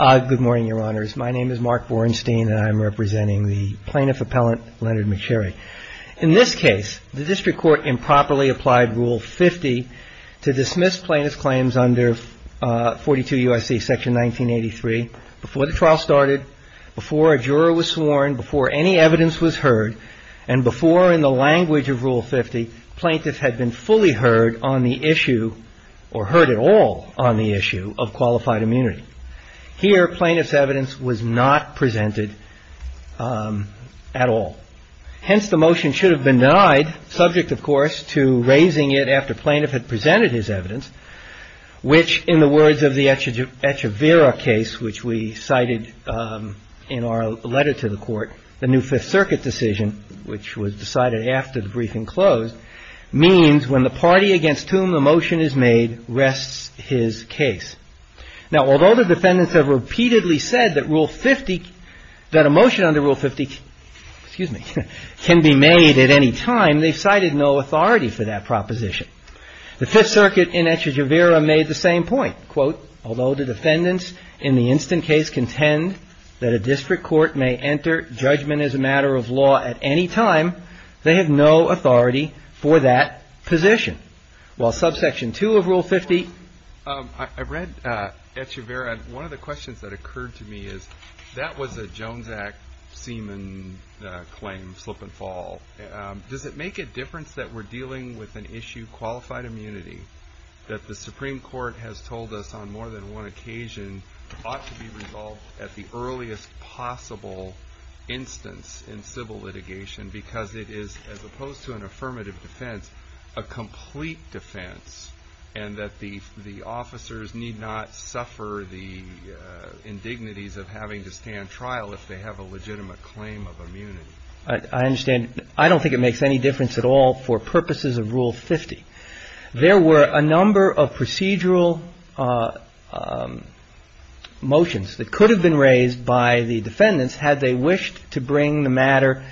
Good morning, your honors. My name is Mark Borenstein, and I'm representing the plaintiff appellant, Leonard McSherry. In this case, the district court improperly applied Rule 50 to dismiss plaintiff's claims under 42 U.S.C. section 1983 before the trial started, before a juror was sworn, before any evidence was heard, and before in the language of Rule 50 plaintiff had been fully heard on the issue, or heard at all on the issue, of qualified immunity. Here, plaintiff's evidence was not presented at all. Hence, the motion should have been denied, subject, of course, to raising it after plaintiff had presented his evidence, which, in the words of the Echevera case, which we cited in our letter to the court, the new Fifth Circuit decision, which was decided after the briefing closed, means when the party against whom the motion is made rests his case. Now, although the defendants have repeatedly said that Rule 50, that a motion under Rule 50 can be made at any time, they've cited no authority for that proposition. The Fifth Circuit in Echevera made the same point. Quote, although the defendants in the instant case contend that a district court may enter judgment as a matter of law at any time, they have no authority for that position. While subsection 2 of Rule 50. I read Echevera, and one of the questions that occurred to me is, that was a Jones Act semen claim, slip and fall. Does it make a difference that we're dealing with an issue, qualified immunity, that the Supreme Court has told us on more than one occasion ought to be resolved at the earliest possible instance in civil litigation, because it is, as opposed to an affirmative defense, a complete defense, and that the officers need not suffer the indignities of having to stand trial if they have a legitimate claim of immunity? I understand. I don't think it makes any difference at all for purposes of Rule 50. There were a number of procedural motions that could have been raised by the defendants had they wished to bring the matter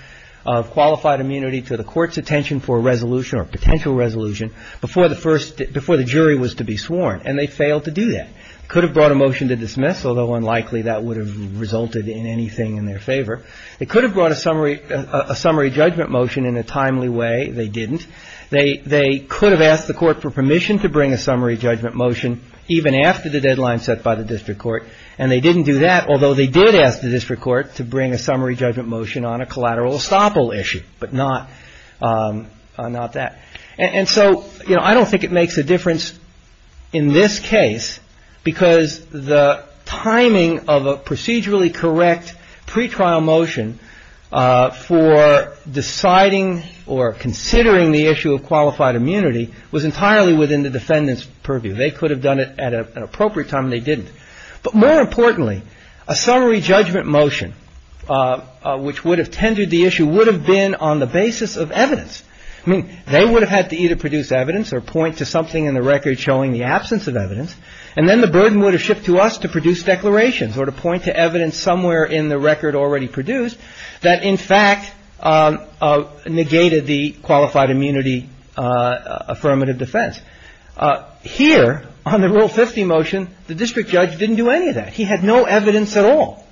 of qualified immunity to the court's attention for a resolution or potential resolution before the first, before the jury was to be sworn, and they failed to do that. It could have brought a motion to dismiss, although unlikely that would have resulted in anything in their favor. It could have brought a summary judgment motion in a timely way. They didn't. They could have asked the court for permission to bring a summary judgment motion even after the deadline set by the district court, and they didn't do that, although they did ask the district court to bring a summary judgment motion on a collateral estoppel issue, but not that. And so, you know, I don't think it makes a difference in this case because the timing of a procedurally correct pretrial motion for deciding or considering the issue of qualified immunity was entirely within the defendant's purview. They could have done it at an appropriate time, and they didn't. But more importantly, a summary judgment motion which would have tendered the issue would have been on the basis of evidence. I mean, they would have had to either produce evidence or point to something in the record showing the absence of evidence, and then the burden would have shipped to us to produce declarations or to point to evidence somewhere in the record already produced that in fact negated the qualified immunity affirmative defense. Here, on the Rule 50 motion, the district judge didn't do any of that. He had no evidence at all.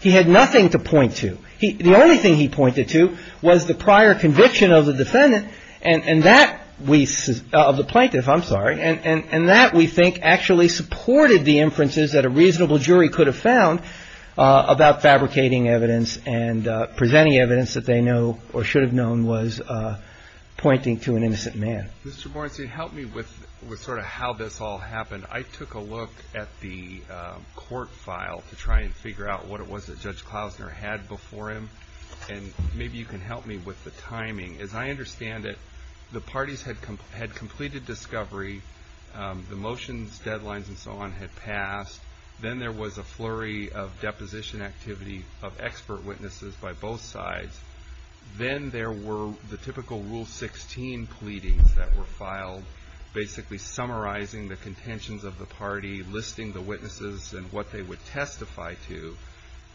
He had nothing to point to. The only thing he pointed to was the prior conviction of the defendant and that we – of the plaintiff, I'm sorry, and that we think actually supported the inferences that a reasonable jury could have found about fabricating evidence and presenting evidence that they know or should have known was pointing to an innocent man. Mr. Morency, help me with sort of how this all happened. I took a look at the court file to try and figure out what it was that Judge Klausner had before him, and maybe you can help me with the timing. As I understand it, the parties had completed discovery. The motions, deadlines, and so on had passed. Then there was a flurry of deposition activity of expert witnesses by both sides. Then there were the typical Rule 16 pleadings that were filed, basically summarizing the contentions of the party, listing the witnesses and what they would testify to.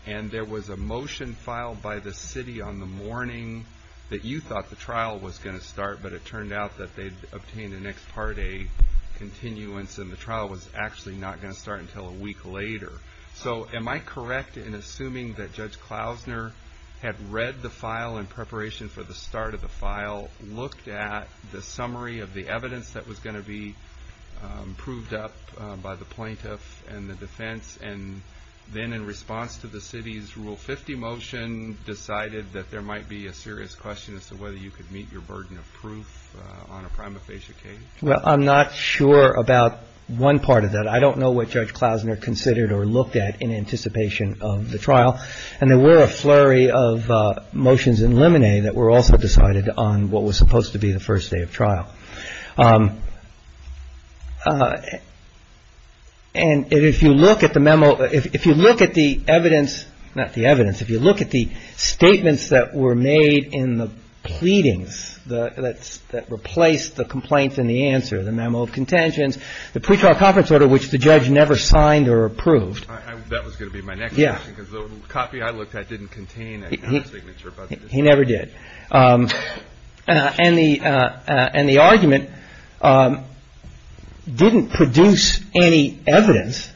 And there was a motion filed by the city on the morning that you thought the trial was going to start, but it turned out that they'd obtained an ex parte continuance, and the trial was actually not going to start until a week later. So am I correct in assuming that Judge Klausner had read the file in preparation for the start of the file, looked at the summary of the evidence that was going to be proved up by the plaintiff and the defense, and then in response to the city's Rule 50 motion decided that there might be a serious question as to whether you could meet your burden of proof on a prima facie case? Well, I'm not sure about one part of that. I don't know what Judge Klausner considered or looked at in anticipation of the trial. And there were a flurry of motions in limine that were also decided on what was supposed to be the first day of trial. And if you look at the memo, if you look at the evidence, not the evidence, if you look at the statements that were made in the pleadings that replaced the complaints and the answer, the memo of contentions, the pre-trial conference order, which the judge never signed or approved. That was going to be my next question because the copy I looked at didn't contain a signature. He never did. And the argument didn't produce any evidence.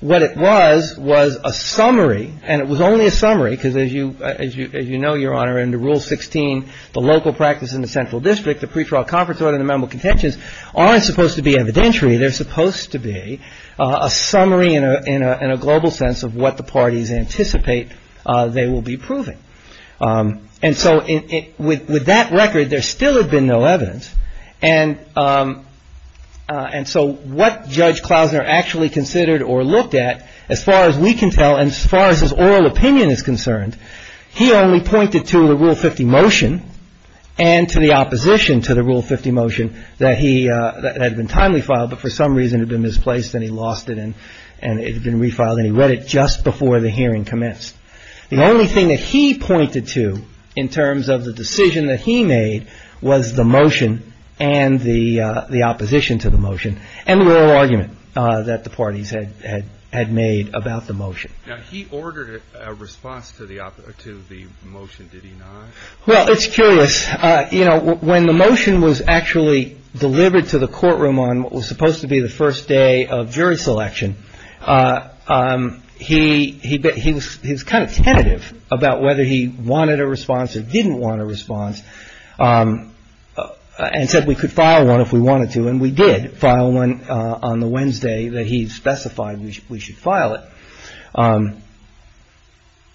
What it was was a summary, and it was only a summary because, as you know, Your Honor, under Rule 16, the local practice in the central district, the pre-trial conference order, and the memo of contentions aren't supposed to be evidentiary. They're supposed to be a summary in a global sense of what the parties anticipate they will be proving. And so with that record, there still had been no evidence. And so what Judge Klausner actually considered or looked at, as far as we can tell, and as far as his oral opinion is concerned, he only pointed to the Rule 50 motion and to the opposition to the Rule 50 motion that he had been timely filed, but for some reason had been misplaced and he lost it and it had been refiled, and he read it just before the hearing commenced. The only thing that he pointed to in terms of the decision that he made was the motion and the opposition to the motion and the oral argument that the parties had made about the motion. Now, he ordered a response to the motion, did he not? Well, it's curious. You know, when the motion was actually delivered to the courtroom on what was supposed to be the first day of jury selection, he was kind of tentative about whether he wanted a response or didn't want a response. And said we could file one if we wanted to, and we did file one on the Wednesday that he specified we should file it.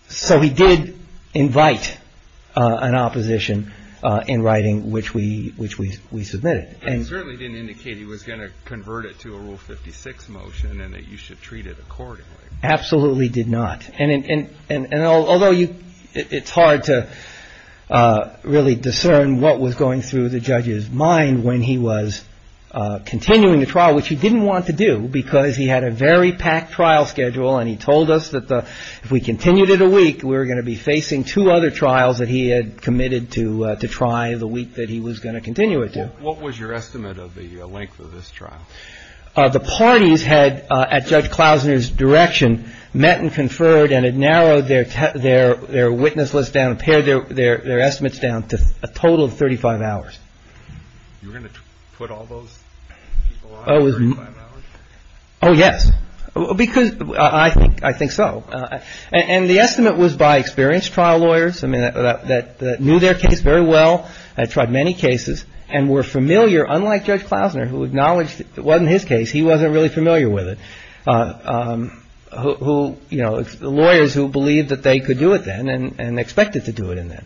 So he did invite an opposition in writing which we submitted. He certainly didn't indicate he was going to convert it to a Rule 56 motion and that you should treat it accordingly. Absolutely did not. And although it's hard to really discern what was going through the judge's mind when he was continuing the trial, which he didn't want to do because he had a very packed trial schedule and he told us that if we continued it a week, we were going to be facing two other trials that he had committed to try the week that he was going to continue it to. What was your estimate of the length of this trial? The parties had, at Judge Klausner's direction, met and conferred and had narrowed their witness list down and pared their estimates down to a total of 35 hours. You were going to put all those people on for 35 hours? Oh, yes. Because I think so. And the estimate was by experienced trial lawyers that knew their case very well, had tried many cases and were familiar, unlike Judge Klausner, who acknowledged it wasn't his case. He wasn't really familiar with it. Who, you know, lawyers who believed that they could do it then and expected to do it in that.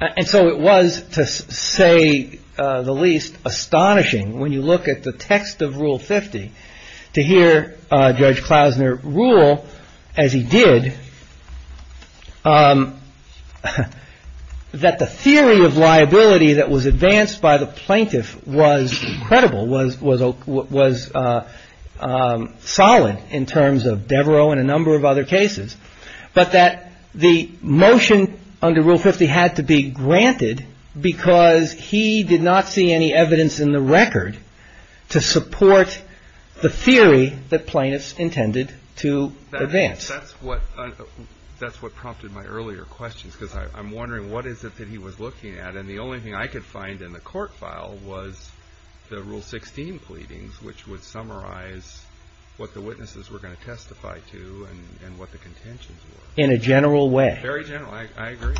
And so it was, to say the least, astonishing when you look at the text of Rule 50 to hear Judge Klausner rule as he did. That the theory of liability that was advanced by the plaintiff was credible, was solid in terms of Devereaux and a number of other cases, but that the motion under Rule 50 had to be granted because he did not see any evidence in the record to support the theory that plaintiffs intended to advance. That's what prompted my earlier questions, because I'm wondering, what is it that he was looking at? And the only thing I could find in the court file was the Rule 16 pleadings, which would summarize what the witnesses were going to testify to and what the contentions were. In a general way. Very general. I agree.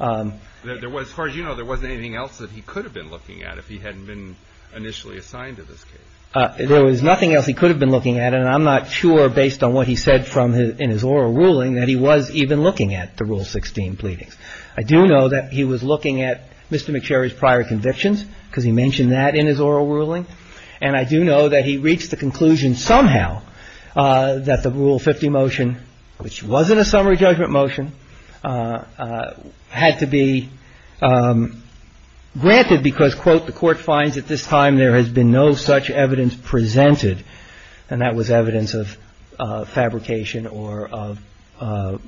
As far as you know, there wasn't anything else that he could have been looking at if he hadn't been initially assigned to this case. There was nothing else he could have been looking at, and I'm not sure, based on what he said in his oral ruling, that he was even looking at the Rule 16 pleadings. I do know that he was looking at Mr. McSherry's prior convictions, because he mentioned that in his oral ruling. And I do know that he reached the conclusion somehow that the Rule 50 motion, which wasn't a summary judgment motion, had to be granted because, quote, the court finds at this time there has been no such evidence presented. And that was evidence of fabrication or of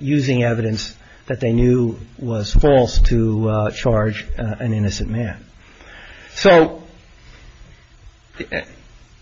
using evidence that they knew was false to charge an innocent man. So,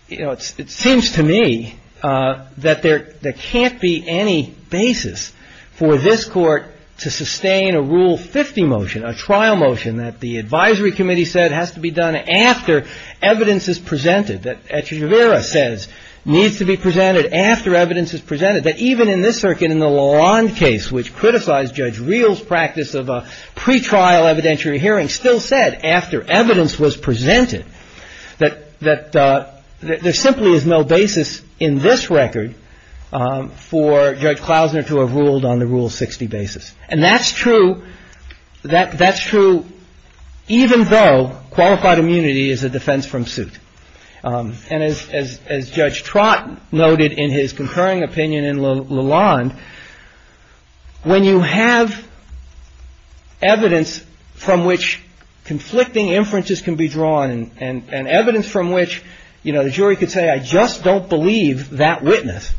you know, it seems to me that there can't be any basis for this Court to sustain a Rule 50 motion, a trial motion that the advisory committee said has to be done after evidence is presented, that Etcheverria says needs to be presented after evidence is presented, that even in this circuit in the Lalonde case, which criticized Judge Reel's practice of a pretrial evidentiary hearing, still said after evidence was presented that there simply is no basis in this record for Judge Klausner to have ruled on the Rule 60 basis. And that's true. That's true even though qualified immunity is a defense from suit. And as Judge Trott noted in his concurring opinion in Lalonde, when you have evidence from which conflicting inferences can be drawn and evidence from which, you know, the jury could say I just don't believe that witness,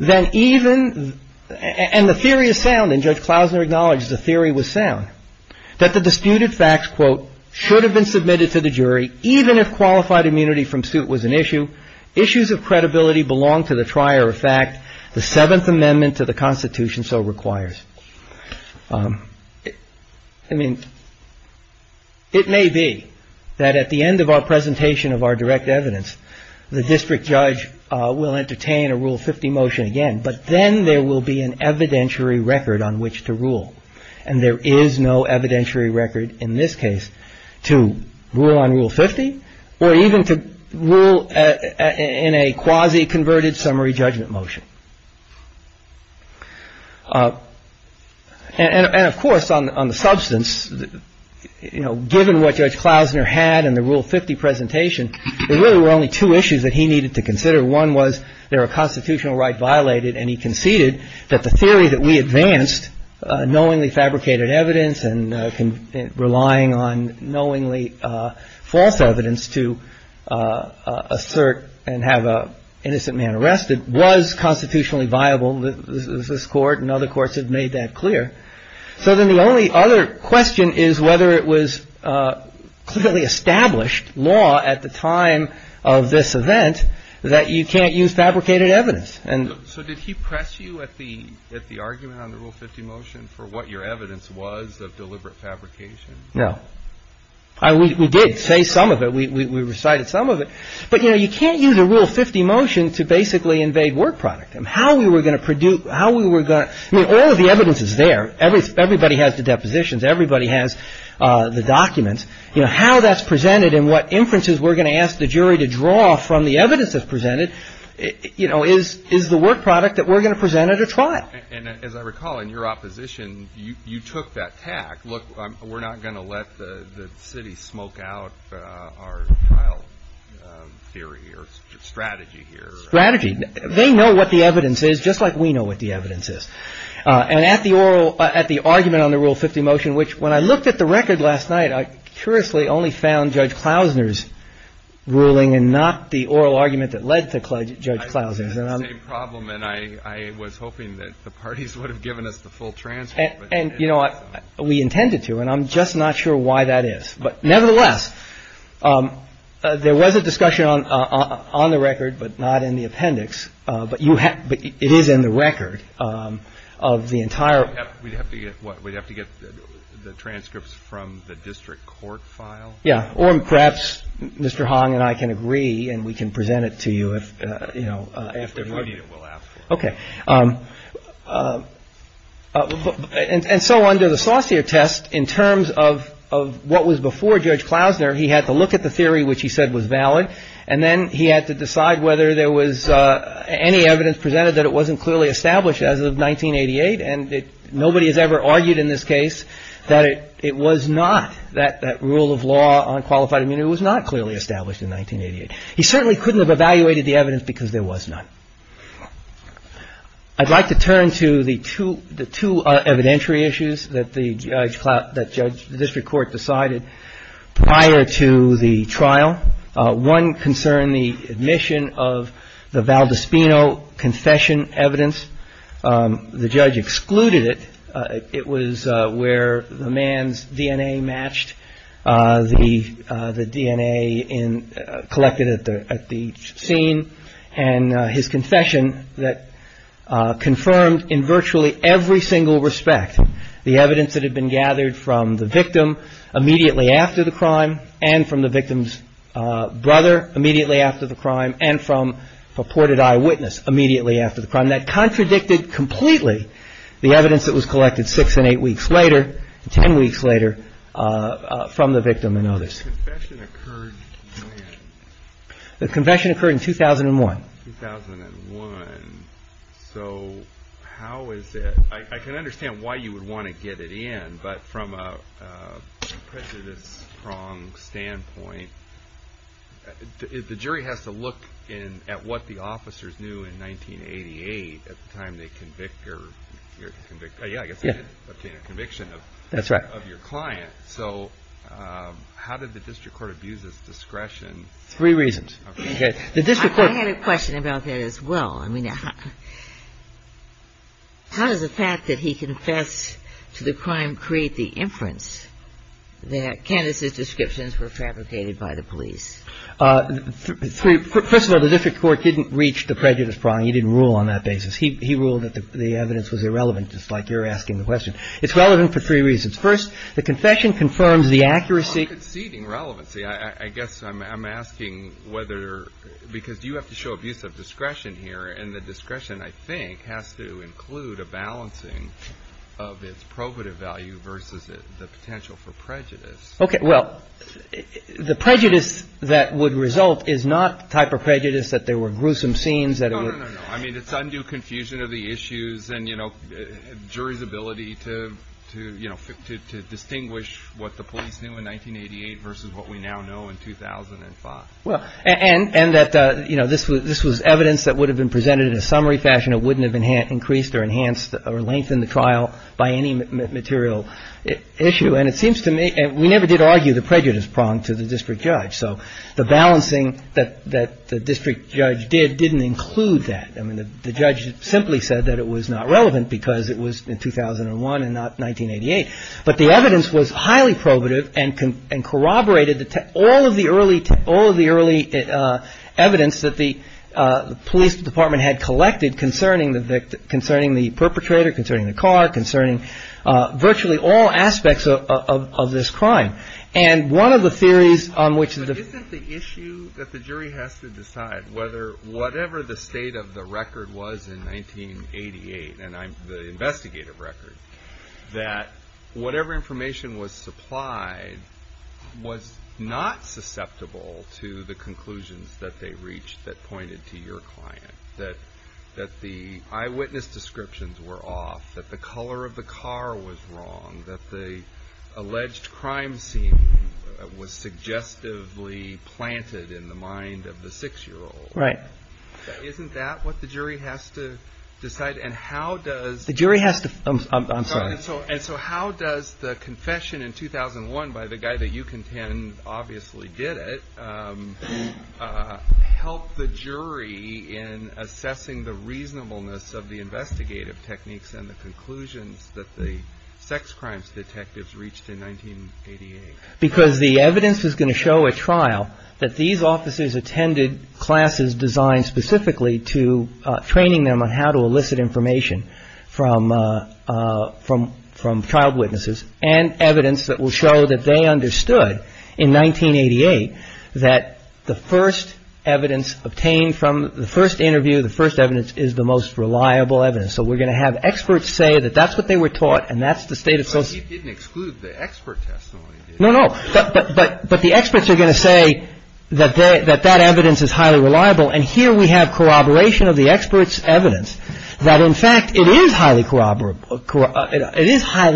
then even, and the theory is sound, and Judge Klausner acknowledged the theory was sound, that the disputed facts, quote, should have been submitted to the jury even if qualified immunity from suit was an issue. Issues of credibility belong to the trier of fact. The Seventh Amendment to the Constitution so requires. I mean, it may be that at the end of our presentation of our direct evidence, the district judge will entertain a Rule 50 motion again, but then there will be an evidentiary record on which to rule. And there is no evidentiary record in this case to rule on Rule 50 or even to rule in a quasi-converted summary judgment motion. And of course, on the substance, you know, there were only two issues that he needed to consider. One was there a constitutional right violated, and he conceded that the theory that we advanced, knowingly fabricated evidence and relying on knowingly false evidence to assert and have an innocent man arrested, was constitutionally viable. This Court and other courts have made that clear. So then the only other question is whether it was clearly established law at the time of this event that you can't use fabricated evidence. And so did he press you at the argument on the Rule 50 motion for what your evidence was of deliberate fabrication? No. We did say some of it. We recited some of it. But, you know, you can't use a Rule 50 motion to basically invade word product. I mean, all of the evidence is there. Everybody has the depositions. Everybody has the documents. You know, how that's presented and what inferences we're going to ask the jury to draw from the evidence that's presented, you know, is the word product that we're going to present at a trial. And as I recall, in your opposition, you took that tack. Look, we're not going to let the city smoke out our trial theory or strategy here. Strategy. They know what the evidence is, just like we know what the evidence is. And at the oral at the argument on the Rule 50 motion, which when I looked at the record last night, I curiously only found Judge Klausner's ruling and not the oral argument that led to Judge Klausner's. It's the same problem. And I was hoping that the parties would have given us the full transcript. And, you know, we intended to, and I'm just not sure why that is. But nevertheless, there was a discussion on the record, but not in the appendix. But it is in the record of the entire. We'd have to get what? We'd have to get the transcripts from the district court file. Yeah. Or perhaps Mr. Hong and I can agree and we can present it to you if, you know. If we need it, we'll ask. Okay. And so under the Saucier test, in terms of what was before Judge Klausner, he had to look at the theory, which he said was valid. And then he had to decide whether there was any evidence presented that it wasn't clearly established as of 1988. And nobody has ever argued in this case that it was not that that rule of law on qualified immunity was not clearly established in 1988. He certainly couldn't have evaluated the evidence because there was none. I'd like to turn to the two evidentiary issues that the judge, the district court decided prior to the trial. One concerned the admission of the Valdispino confession evidence. The judge excluded it. It was where the man's DNA matched the DNA collected at the scene. And his confession that confirmed in virtually every single respect the evidence that had been gathered from the victim immediately after the crime and from the victim's brother immediately after the crime and from purported eyewitness immediately after the crime. And that contradicted completely the evidence that was collected six and eight weeks later, ten weeks later, from the victim and others. The confession occurred when? The confession occurred in 2001. 2001. So how is it? I can understand why you would want to get it in. But from a prejudice prong standpoint, the jury has to look in at what the officers knew in 1988 at the time they convict your conviction of your client. So how did the district court abuse his discretion? Three reasons. I had a question about that as well. I mean, how does the fact that he confessed to the crime create the inference that Candace's descriptions were fabricated by the police? First of all, the district court didn't reach the prejudice prong. He didn't rule on that basis. He ruled that the evidence was irrelevant, just like you're asking the question. It's relevant for three reasons. First, the confession confirms the accuracy. I'm conceding relevancy. I guess I'm asking whether – because you have to show abuse of discretion here, and the discretion, I think, has to include a balancing of its probative value versus the potential for prejudice. Okay. Well, the prejudice that would result is not the type of prejudice that there were gruesome scenes that it would – No, no, no. I mean, it's undue confusion of the issues and, you know, jury's ability to, you know, distinguish what the police knew in 1988 versus what we now know in 2005. Well, and that, you know, this was evidence that would have been presented in a summary fashion. It wouldn't have increased or enhanced or lengthened the trial by any material issue. And it seems to me – we never did argue the prejudice prong to the district judge. So the balancing that the district judge did didn't include that. I mean, the judge simply said that it was not relevant because it was in 2001 and not 1988. But the evidence was highly probative and corroborated all of the early evidence that the police department had collected concerning the perpetrator, concerning the car, concerning virtually all aspects of this crime. And one of the theories on which – But isn't the issue that the jury has to decide whether whatever the state of the record was in 1988, and the investigative record, that whatever information was supplied was not susceptible to the conclusions that they reached that pointed to your client, that the eyewitness descriptions were off, that the color of the car was wrong, that the alleged crime scene was suggestively planted in the mind of the six-year-old. Right. Isn't that what the jury has to decide? And how does – The jury has to – I'm sorry. And so how does the confession in 2001 by the guy that you contend obviously did it help the jury in assessing the reasonableness of the investigative techniques and the conclusions that the sex crimes detectives reached in 1988? Because the evidence is going to show at trial that these officers attended classes designed specifically to – training them on how to elicit information from trial witnesses and evidence that will show that they understood in 1988 that the first evidence obtained from the first interview, the first evidence, is the most reliable evidence. So we're going to have experts say that that's what they were taught and that's the state of – But you didn't exclude the expert testimony, did you? No, no. But the experts are going to say that that evidence is highly reliable, and here we have corroboration of the experts' evidence that, in fact, it is highly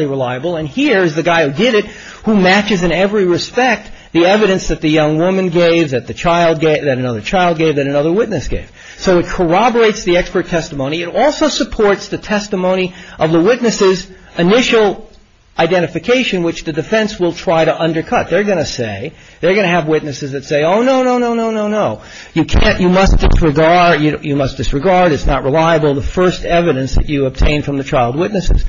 reliable, and here is the guy who did it who matches in every respect the evidence that the young woman gave, that another child gave, that another witness gave. So it corroborates the expert testimony. It also supports the testimony of the witnesses' initial identification, which the defense will try to undercut. They're going to say – they're going to have witnesses that say, oh, no, no, no, no, no, no. You can't – you must disregard, it's not reliable, the first evidence that you obtained from the child witnesses.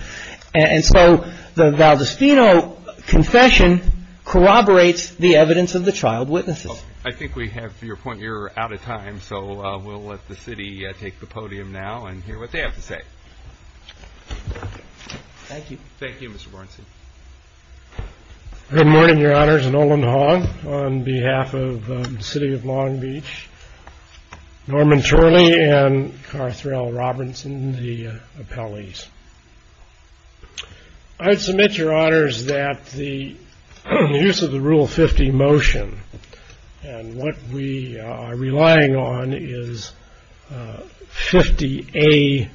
And so the Valdostino confession corroborates the evidence of the child witnesses. I think we have your point. You're out of time, so we'll let the city take the podium now and hear what they have to say. Thank you. Thank you, Mr. Borenstein. Good morning, Your Honors. On behalf of the city of Long Beach, Norman Turley and Carthrell Robinson, the appellees. I submit, Your Honors, that the use of the Rule 50 motion and what we are relying on is 50A2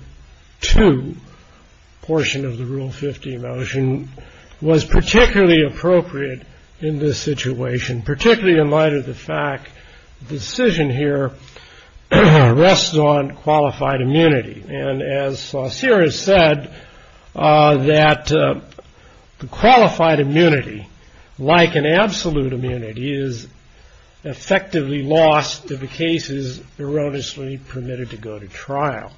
portion of the Rule 50 motion was particularly appropriate in this situation, particularly in light of the fact the decision here rests on qualified immunity. And as Sarah said, that the qualified immunity, like an absolute immunity, is effectively lost if a case is erroneously permitted to go to trial.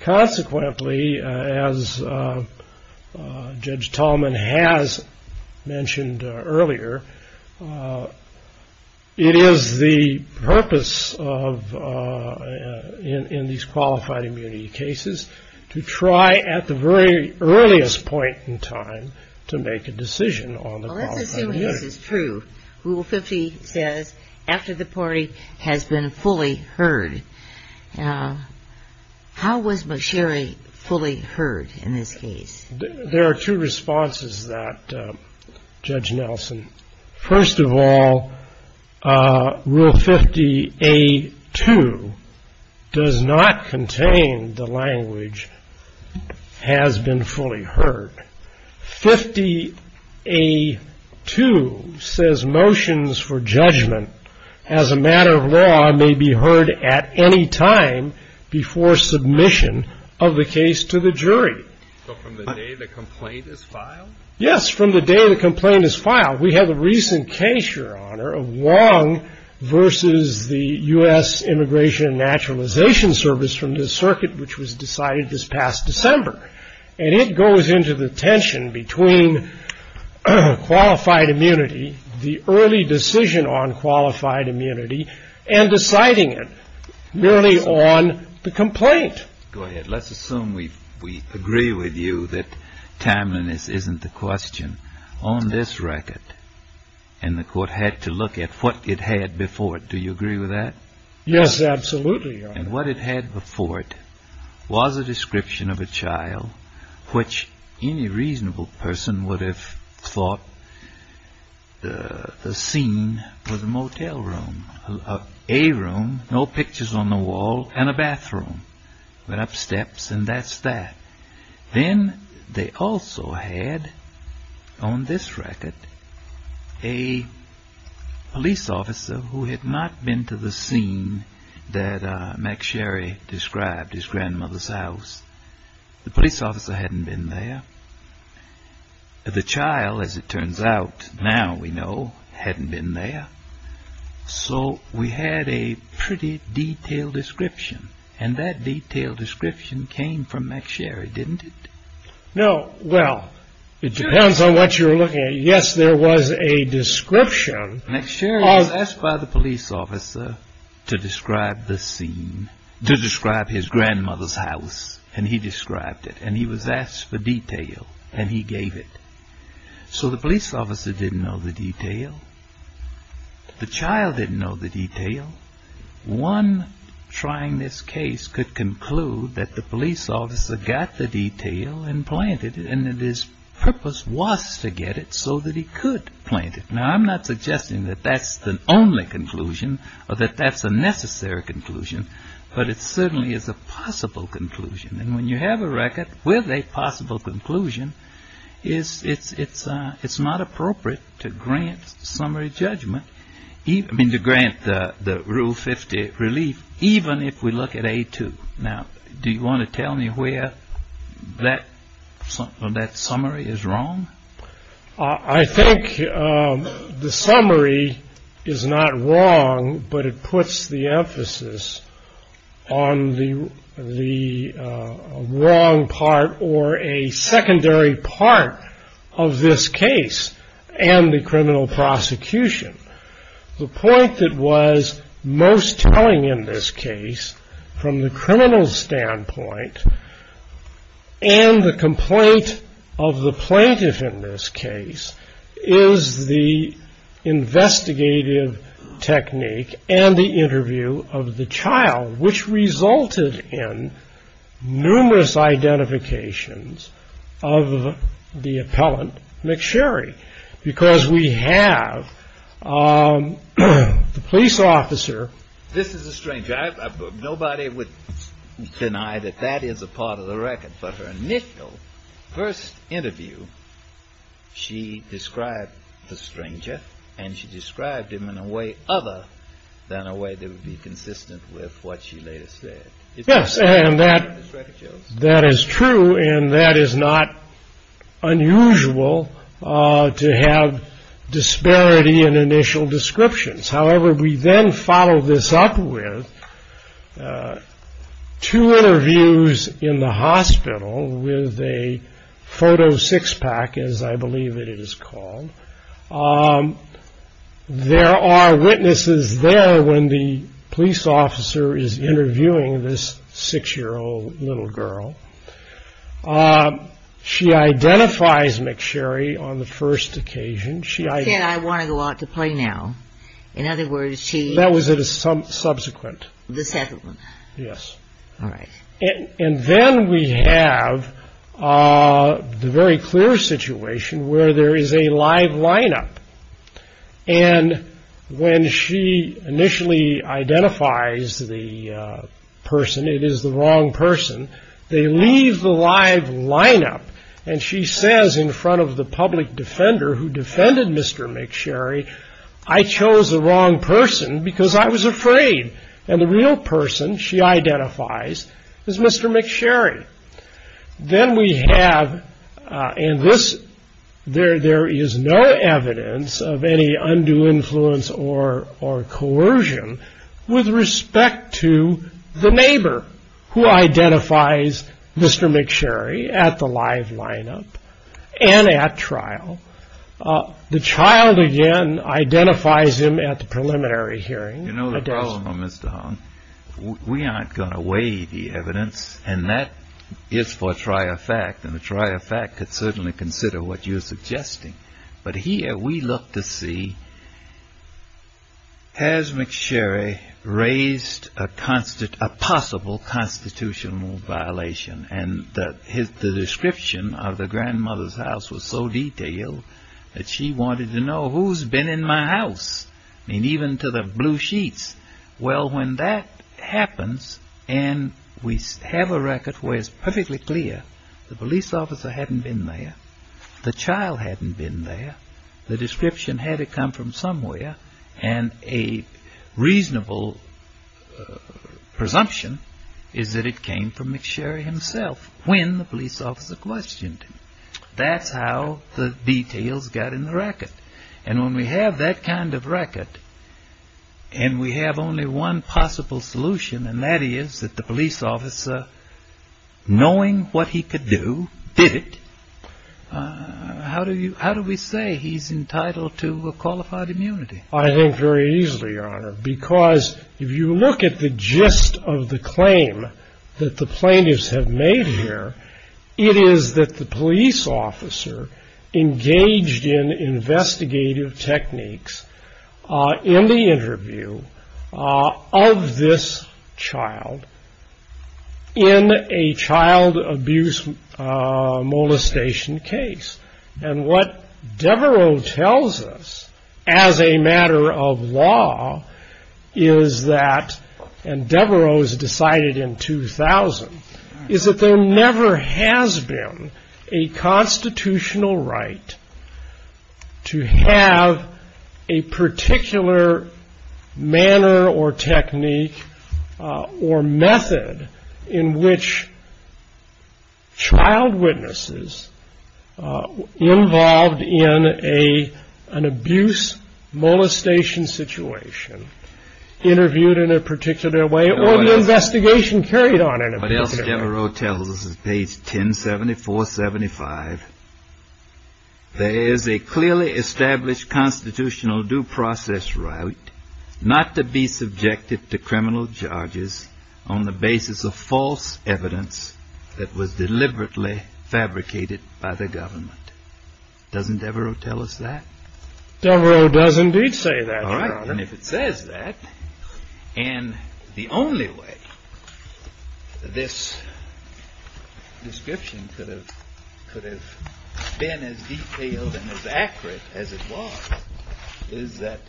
Consequently, as Judge Tallman has mentioned earlier, it is the purpose in these qualified immunity cases to try at the very earliest point in time to make a decision on the qualified immunity. Well, let's assume this is true. Rule 50 says, after the party has been fully heard. How was McSherry fully heard in this case? There are two responses to that, Judge Nelson. First of all, Rule 50A2 does not contain the language, has been fully heard. 50A2 says motions for judgment as a matter of law may be heard at any time before submission of the case to the jury. So from the day the complaint is filed? Yes, from the day the complaint is filed. We have a recent case, Your Honor, of Wong versus the U.S. Immigration and Naturalization Service from the circuit, which was decided this past December. And it goes into the tension between qualified immunity, the early decision on qualified immunity, and deciding it merely on the complaint. Go ahead. Let's assume we agree with you that timeliness isn't the question. On this record, and the court had to look at what it had before it, do you agree with that? Yes, absolutely, Your Honor. And what it had before it was a description of a child which any reasonable person would have thought the scene was a motel room. A room, no pictures on the wall, and a bathroom with up steps and that's that. Then they also had, on this record, a police officer who had not been to the scene that McSherry described, his grandmother's house. The police officer hadn't been there. The child, as it turns out now we know, hadn't been there. So we had a pretty detailed description, and that detailed description came from McSherry, didn't it? No, well, it depends on what you're looking at. Yes, there was a description. McSherry was asked by the police officer to describe the scene, to describe his grandmother's house, and he described it. And he was asked for detail, and he gave it. So the police officer didn't know the detail. The child didn't know the detail. One trying this case could conclude that the police officer got the detail and planted it, and that his purpose was to get it so that he could plant it. Now, I'm not suggesting that that's the only conclusion or that that's a necessary conclusion, but it certainly is a possible conclusion. And when you have a record with a possible conclusion, it's not appropriate to grant summary judgment, to grant the Rule 50 relief, even if we look at A2. Now, do you want to tell me where that summary is wrong? I think the summary is not wrong, but it puts the emphasis on the wrong part or a secondary part of this case and the criminal prosecution. The point that was most telling in this case, from the criminal standpoint, and the complaint of the plaintiff in this case, is the investigative technique and the interview of the child, which resulted in numerous identifications of the appellant McSherry. Because we have the police officer. This is a stranger. Nobody would deny that that is a part of the record. But her initial first interview, she described the stranger, and she described him in a way other than a way that would be consistent with what she later said. Yes. And that that is true. And that is not unusual to have disparity in initial descriptions. However, we then follow this up with two interviews in the hospital with a photo six pack, as I believe it is called. There are witnesses there when the police officer is interviewing this six year old little girl. She identifies McSherry on the first occasion. She said, I want to go out to play now. In other words, she that was it is some subsequent. The second one. And then we have a very clear situation where there is a live lineup. And when she initially identifies the person, it is the wrong person. They leave the live lineup. And she says in front of the public defender who defended Mr. I chose the wrong person because I was afraid. And the real person she identifies is Mr. McSherry. Then we have in this there. There is no evidence of any undue influence or or coercion with respect to the neighbor who identifies Mr. McSherry at the live lineup and at trial. The child again identifies him at the preliminary hearing. You know, the problem, Mr. We aren't going to weigh the evidence. And that is for a trier fact. And the trier fact could certainly consider what you're suggesting. But here we look to see. Has McSherry raised a constant, a possible constitutional violation? And that is the description of the grandmother's house was so detailed that she wanted to know who's been in my house. And even to the blue sheets. Well, when that happens and we have a record where it's perfectly clear. The police officer hadn't been there. The child hadn't been there. The description had to come from somewhere. And a reasonable presumption is that it came from McSherry himself when the police officer questioned. That's how the details got in the record. And when we have that kind of record. And we have only one possible solution, and that is that the police officer, knowing what he could do, did it. How do you how do we say he's entitled to a qualified immunity? I think very easily, Your Honor, because if you look at the gist of the claim that the plaintiffs have made here, it is that the police officer engaged in investigative techniques in the interview of this child in a child abuse molestation case. And what Devereux tells us as a matter of law is that and Devereux is decided in 2000 is that there never has been a constitutional right. To have a particular manner or technique or method in which. Child witnesses involved in a an abuse molestation situation interviewed in a particular way or the investigation carried on. What else Devereux tells us is page 10, 74, 75. There is a clearly established constitutional due process right not to be subjected to criminal charges on the basis of false evidence that was deliberately fabricated by the government. Doesn't Devereux tell us that? Devereux does indeed say that. And if it says that and the only way this description could have could have been as detailed and as accurate as it was, is that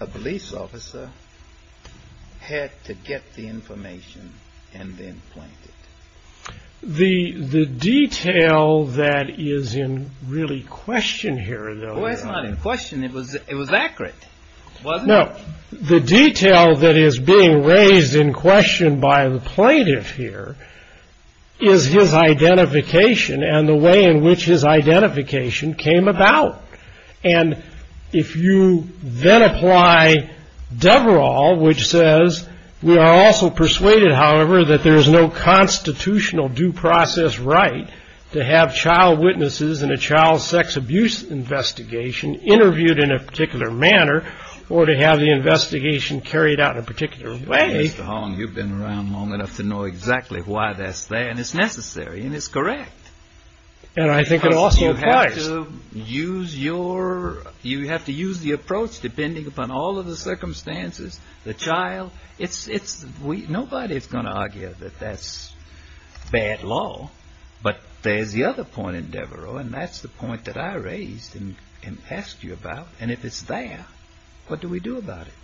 a police officer had to get the information and then point it. The detail that is in really question here, though, is not in question. It was it was accurate. Now, the detail that is being raised in question by the plaintiff here is his identification and the way in which his identification came about. And if you then apply Devereux, which says we are also persuaded, however, that there is no constitutional due process right to have child witnesses in a child sex abuse investigation interviewed in a particular manner or to have the investigation carried out in a particular way. Mr. Holland, you've been around long enough to know exactly why that's there and it's necessary and it's correct. And I think it also applies to use your you have to use the approach, depending upon all of the circumstances, the child. It's it's we nobody is going to argue that that's bad law. But there's the other point in Devereux. And that's the point that I raised and asked you about. And if it's there, what do we do about it?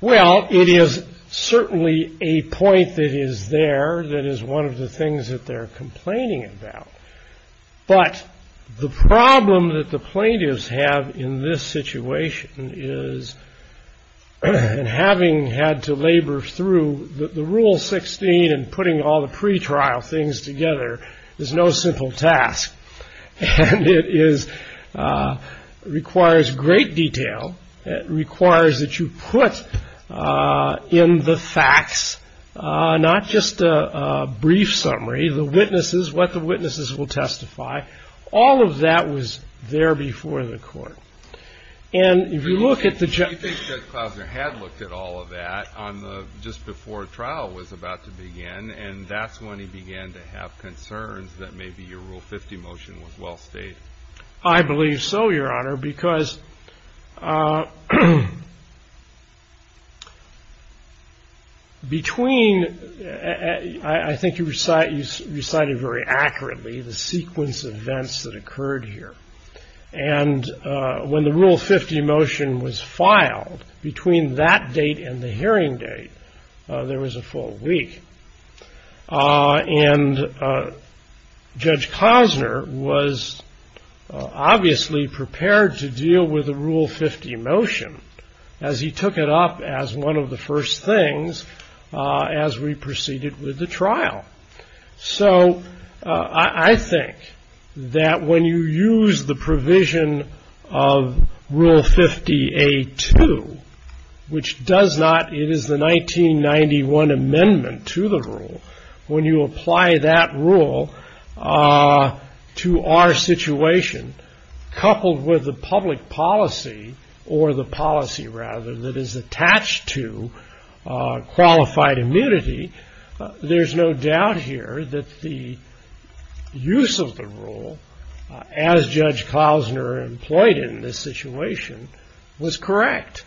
Well, it is certainly a point that is there. That is one of the things that they're complaining about. But the problem that the plaintiffs have in this situation is having had to labor through the rule 16 and putting all the pretrial things together is no simple task. And it is requires great detail. It requires that you put in the facts, not just a brief summary, the witnesses, what the witnesses will testify. All of that was there before the court. And if you look at the judge, there had looked at all of that on the just before trial was about to begin. And that's when he began to have concerns that maybe your rule 50 motion was well stated. I believe so, Your Honor, because between. I think you recite you recited very accurately the sequence of events that occurred here. And when the rule 50 motion was filed between that date and the hearing date, there was a full week. And Judge Cosner was obviously prepared to deal with the rule 50 motion as he took it up as one of the first things as we proceeded with the trial. So I think that when you use the provision of rule 50, a two, which does not. It is the 1991 amendment to the rule. When you apply that rule to our situation, coupled with the public policy or the policy rather, that is attached to qualified immunity. There's no doubt here that the use of the rule as Judge Cosner employed in this situation was correct.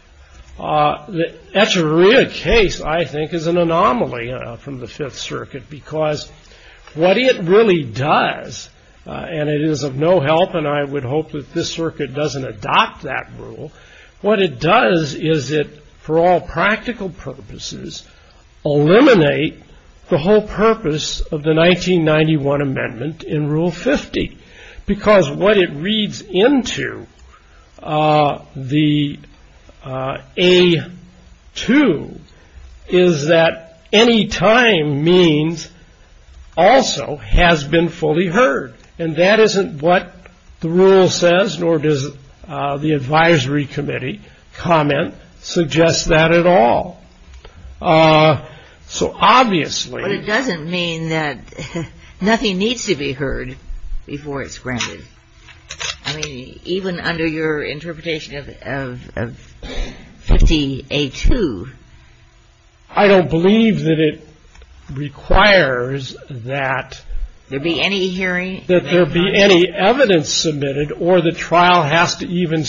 That's a real case, I think, is an anomaly from the Fifth Circuit, because what it really does. And it is of no help. And I would hope that this circuit doesn't adopt that rule. What it does is it, for all practical purposes, eliminate the whole purpose of the 1991 amendment in rule 50, because what it reads into the a two is that any time means also has been fully heard. And that isn't what the rule says, nor does the advisory committee comment suggest that at all. So obviously, it doesn't mean that nothing needs to be heard before it's granted. I mean, even under your interpretation of 50, a two. I don't believe that it requires that there be any hearing, that there be any evidence submitted or the trial has to even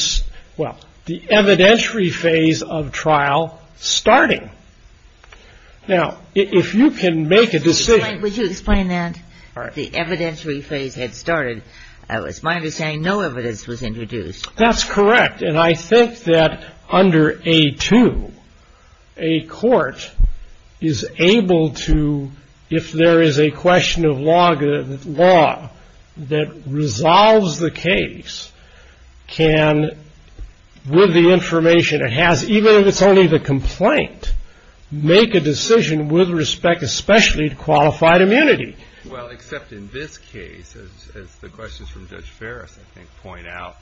well, the evidentiary phase of trial starting. Now, if you can make a decision, would you explain that? The evidentiary phase had started. It's my understanding no evidence was introduced. That's correct. And I think that under a two, a court is able to, if there is a question of law that resolves the case, can, with the information it has, even if it's only the complaint, make a decision with respect especially to qualified immunity. Well, except in this case, as the questions from Judge Ferris, I think, point out,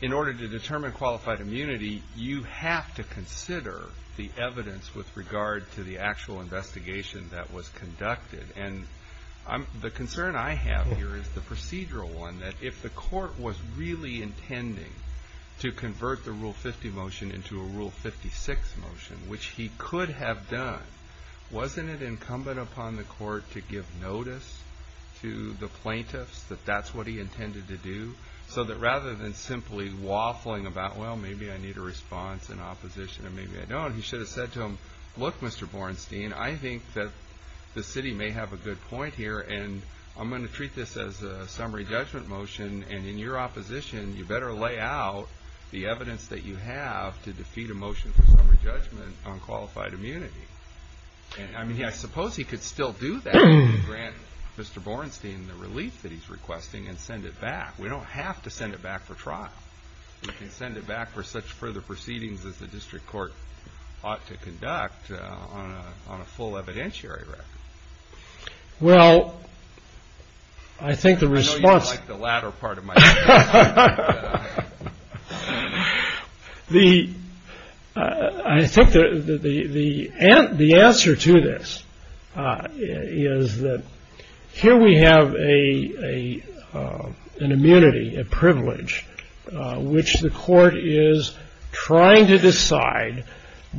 in order to determine qualified immunity, you have to consider the evidence with regard to the actual investigation that was conducted. And the concern I have here is the procedural one, that if the court was really intending to convert the rule 50 motion into a rule 56 motion, which he could have done, wasn't it incumbent upon the court to give notice to the plaintiffs that that's what he intended to do? So that rather than simply waffling about, well, maybe I need a response in opposition and maybe I don't, he should have said to them, look, Mr. Bornstein, I think that the city may have a good point here, and I'm going to treat this as a summary judgment motion, and in your opposition, you better lay out the evidence that you have to defeat a motion for summary judgment on qualified immunity. And, I mean, I suppose he could still do that and grant Mr. Bornstein the relief that he's requesting and send it back. We don't have to send it back for trial. We can send it back for such further proceedings as the district court ought to conduct on a full evidentiary record. Well, I think the response. I know you don't like the latter part of my answer. I think the answer to this is that here we have an immunity, a privilege, which the court is trying to decide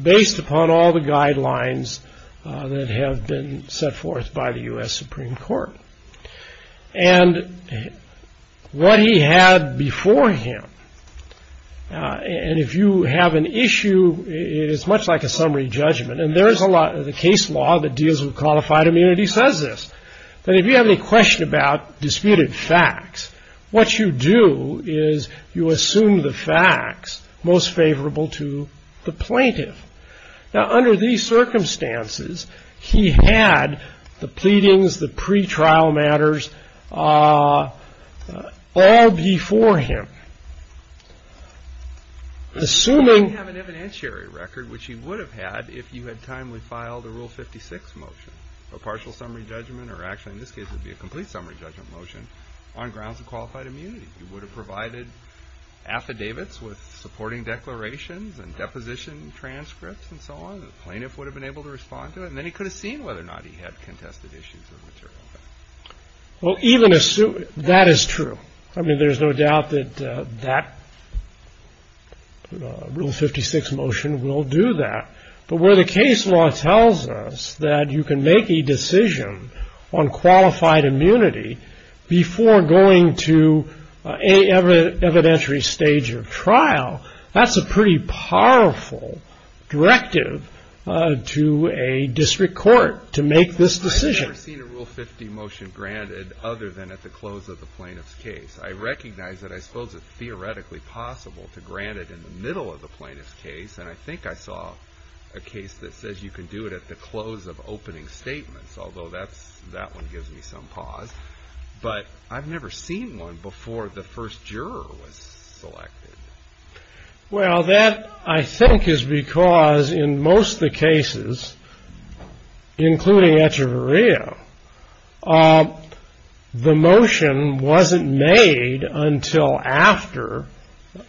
based upon all the guidelines that have been set forth by the U.S. Supreme Court. And what he had before him, and if you have an issue, it is much like a summary judgment, and there is a lot of the case law that deals with qualified immunity says this, that if you have any question about disputed facts, what you do is you assume the facts most favorable to the plaintiff. Now, under these circumstances, he had the pleadings, the pretrial matters all before him. Assuming. He didn't have an evidentiary record, which he would have had if you had timely filed a Rule 56 motion, a partial summary judgment, or actually in this case it would be a complete summary judgment motion, on grounds of qualified immunity. He would have provided affidavits with supporting declarations and deposition transcripts and so on. The plaintiff would have been able to respond to it, and then he could have seen whether or not he had contested issues or material facts. Well, even assuming. That is true. I mean, there is no doubt that that Rule 56 motion will do that. But where the case law tells us that you can make a decision on qualified immunity before going to an evidentiary stage of trial, that is a pretty powerful directive to a district court to make this decision. I've never seen a Rule 50 motion granted other than at the close of the plaintiff's case. I recognize that I suppose it's theoretically possible to grant it in the middle of the plaintiff's case, and I think I saw a case that says you can do it at the close of opening statements, although that one gives me some pause. But I've never seen one before the first juror was selected. Well, that, I think, is because in most of the cases, including Echeverria, the motion wasn't made until after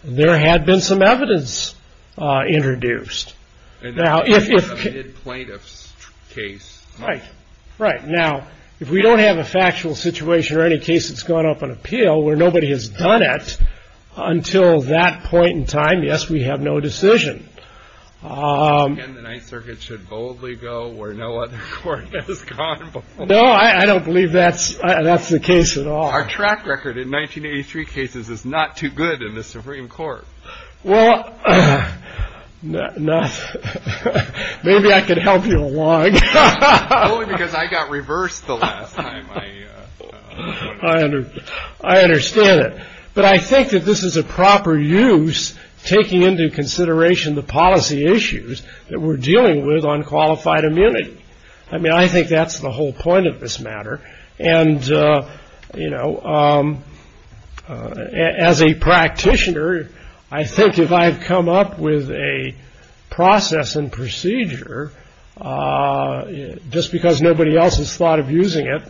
there had been some evidence introduced. Now, if we don't have a factual situation or any case that's gone up on appeal where nobody has done it until that point in time, yes, we have no decision. And the Ninth Circuit should boldly go where no other court has gone before. No, I don't believe that's the case at all. Our track record in 1983 cases is not too good in the Supreme Court. Well, maybe I could help you along. Only because I got reversed the last time. I understand it. But I think that this is a proper use taking into consideration the policy issues that we're dealing with on qualified immunity. I mean, I think that's the whole point of this matter. And, you know, as a practitioner, I think if I had come up with a process and procedure, just because nobody else has thought of using it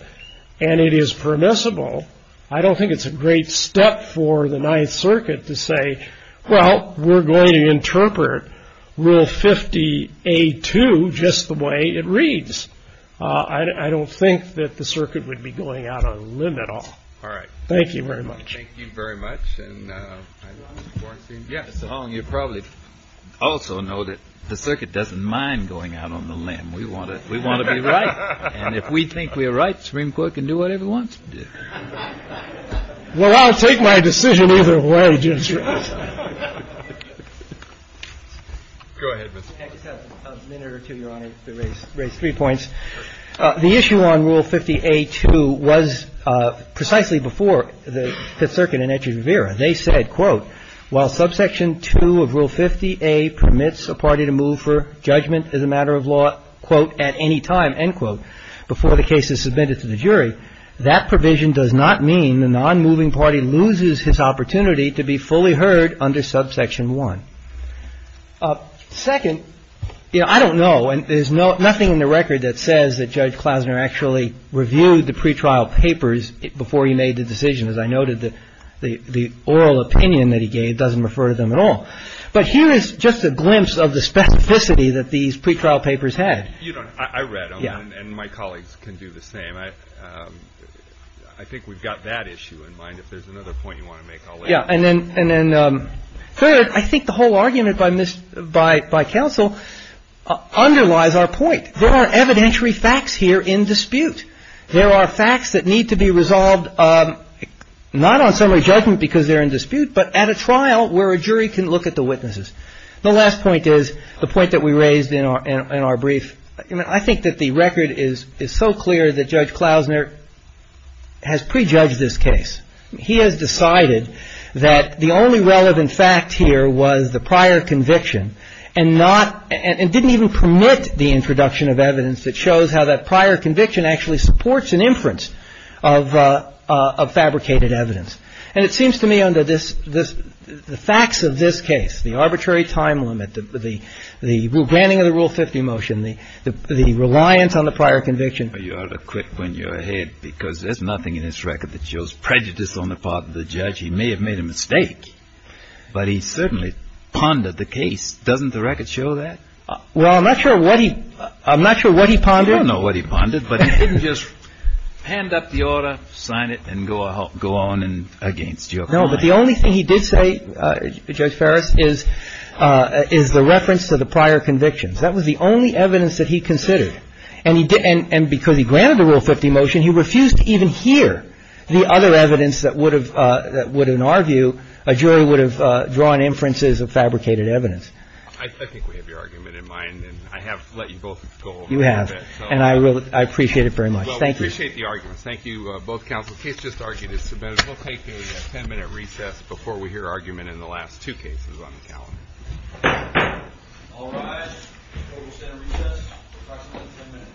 and it is permissible, I don't think it's a great step for the Ninth Circuit to say, well, we're going to interpret Rule 50A2 just the way it reads. I don't think that the circuit would be going out on a limb at all. All right. Thank you very much. Thank you very much. And yes, you probably also know that the circuit doesn't mind going out on the limb. We want to we want to be right. And if we think we are right, Supreme Court can do whatever it wants to do. Well, I'll take my decision either way. Go ahead. I just have a minute or two, Your Honor, to raise three points. The issue on Rule 50A2 was precisely before the Fifth Circuit and Etcheverry. They said, quote, while subsection 2 of Rule 50A permits a party to move for judgment as a matter of law, quote, at any time, end quote, before the case is submitted to the jury, that provision does not mean the nonmoving party loses his opportunity to be fully heard under subsection 1. Second, I don't know. And there's nothing in the record that says that Judge Klausner actually reviewed the pretrial papers before he made the decision. As I noted, the oral opinion that he gave doesn't refer to them at all. But here is just a glimpse of the specificity that these pretrial papers had. I read them and my colleagues can do the same. I think we've got that issue in mind. Yeah, and then third, I think the whole argument by counsel underlies our point. There are evidentiary facts here in dispute. There are facts that need to be resolved not on summary judgment because they're in dispute, but at a trial where a jury can look at the witnesses. The last point is the point that we raised in our brief. I think that the record is so clear that Judge Klausner has prejudged this case. He has decided that the only relevant fact here was the prior conviction and not – and didn't even permit the introduction of evidence that shows how that prior conviction actually supports an inference of fabricated evidence. And it seems to me under this – the facts of this case, the arbitrary time limit, the granting of the Rule 50 motion, the reliance on the prior conviction. Well, you ought to quit when you're ahead because there's nothing in this record that shows prejudice on the part of the judge. He may have made a mistake, but he certainly pondered the case. Doesn't the record show that? Well, I'm not sure what he – I'm not sure what he pondered. I don't know what he pondered, but he didn't just hand up the order, sign it, and go on against your client. No, but the only thing he did say, Judge Ferris, is the reference to the prior convictions. That was the only evidence that he considered. And he didn't – and because he granted the Rule 50 motion, he refused to even hear the other evidence that would have – that would, in our view, a jury would have drawn inferences of fabricated evidence. I think we have your argument in mind, and I have let you both go a little bit. You have. And I really – I appreciate it very much. Thank you. Well, we appreciate the arguments. Thank you, both counsel. The case just argued is submitted. We'll take a ten-minute recess before we hear argument in the last two cases on the calendar. All rise. Total center recess, approximately ten minutes. Thank you.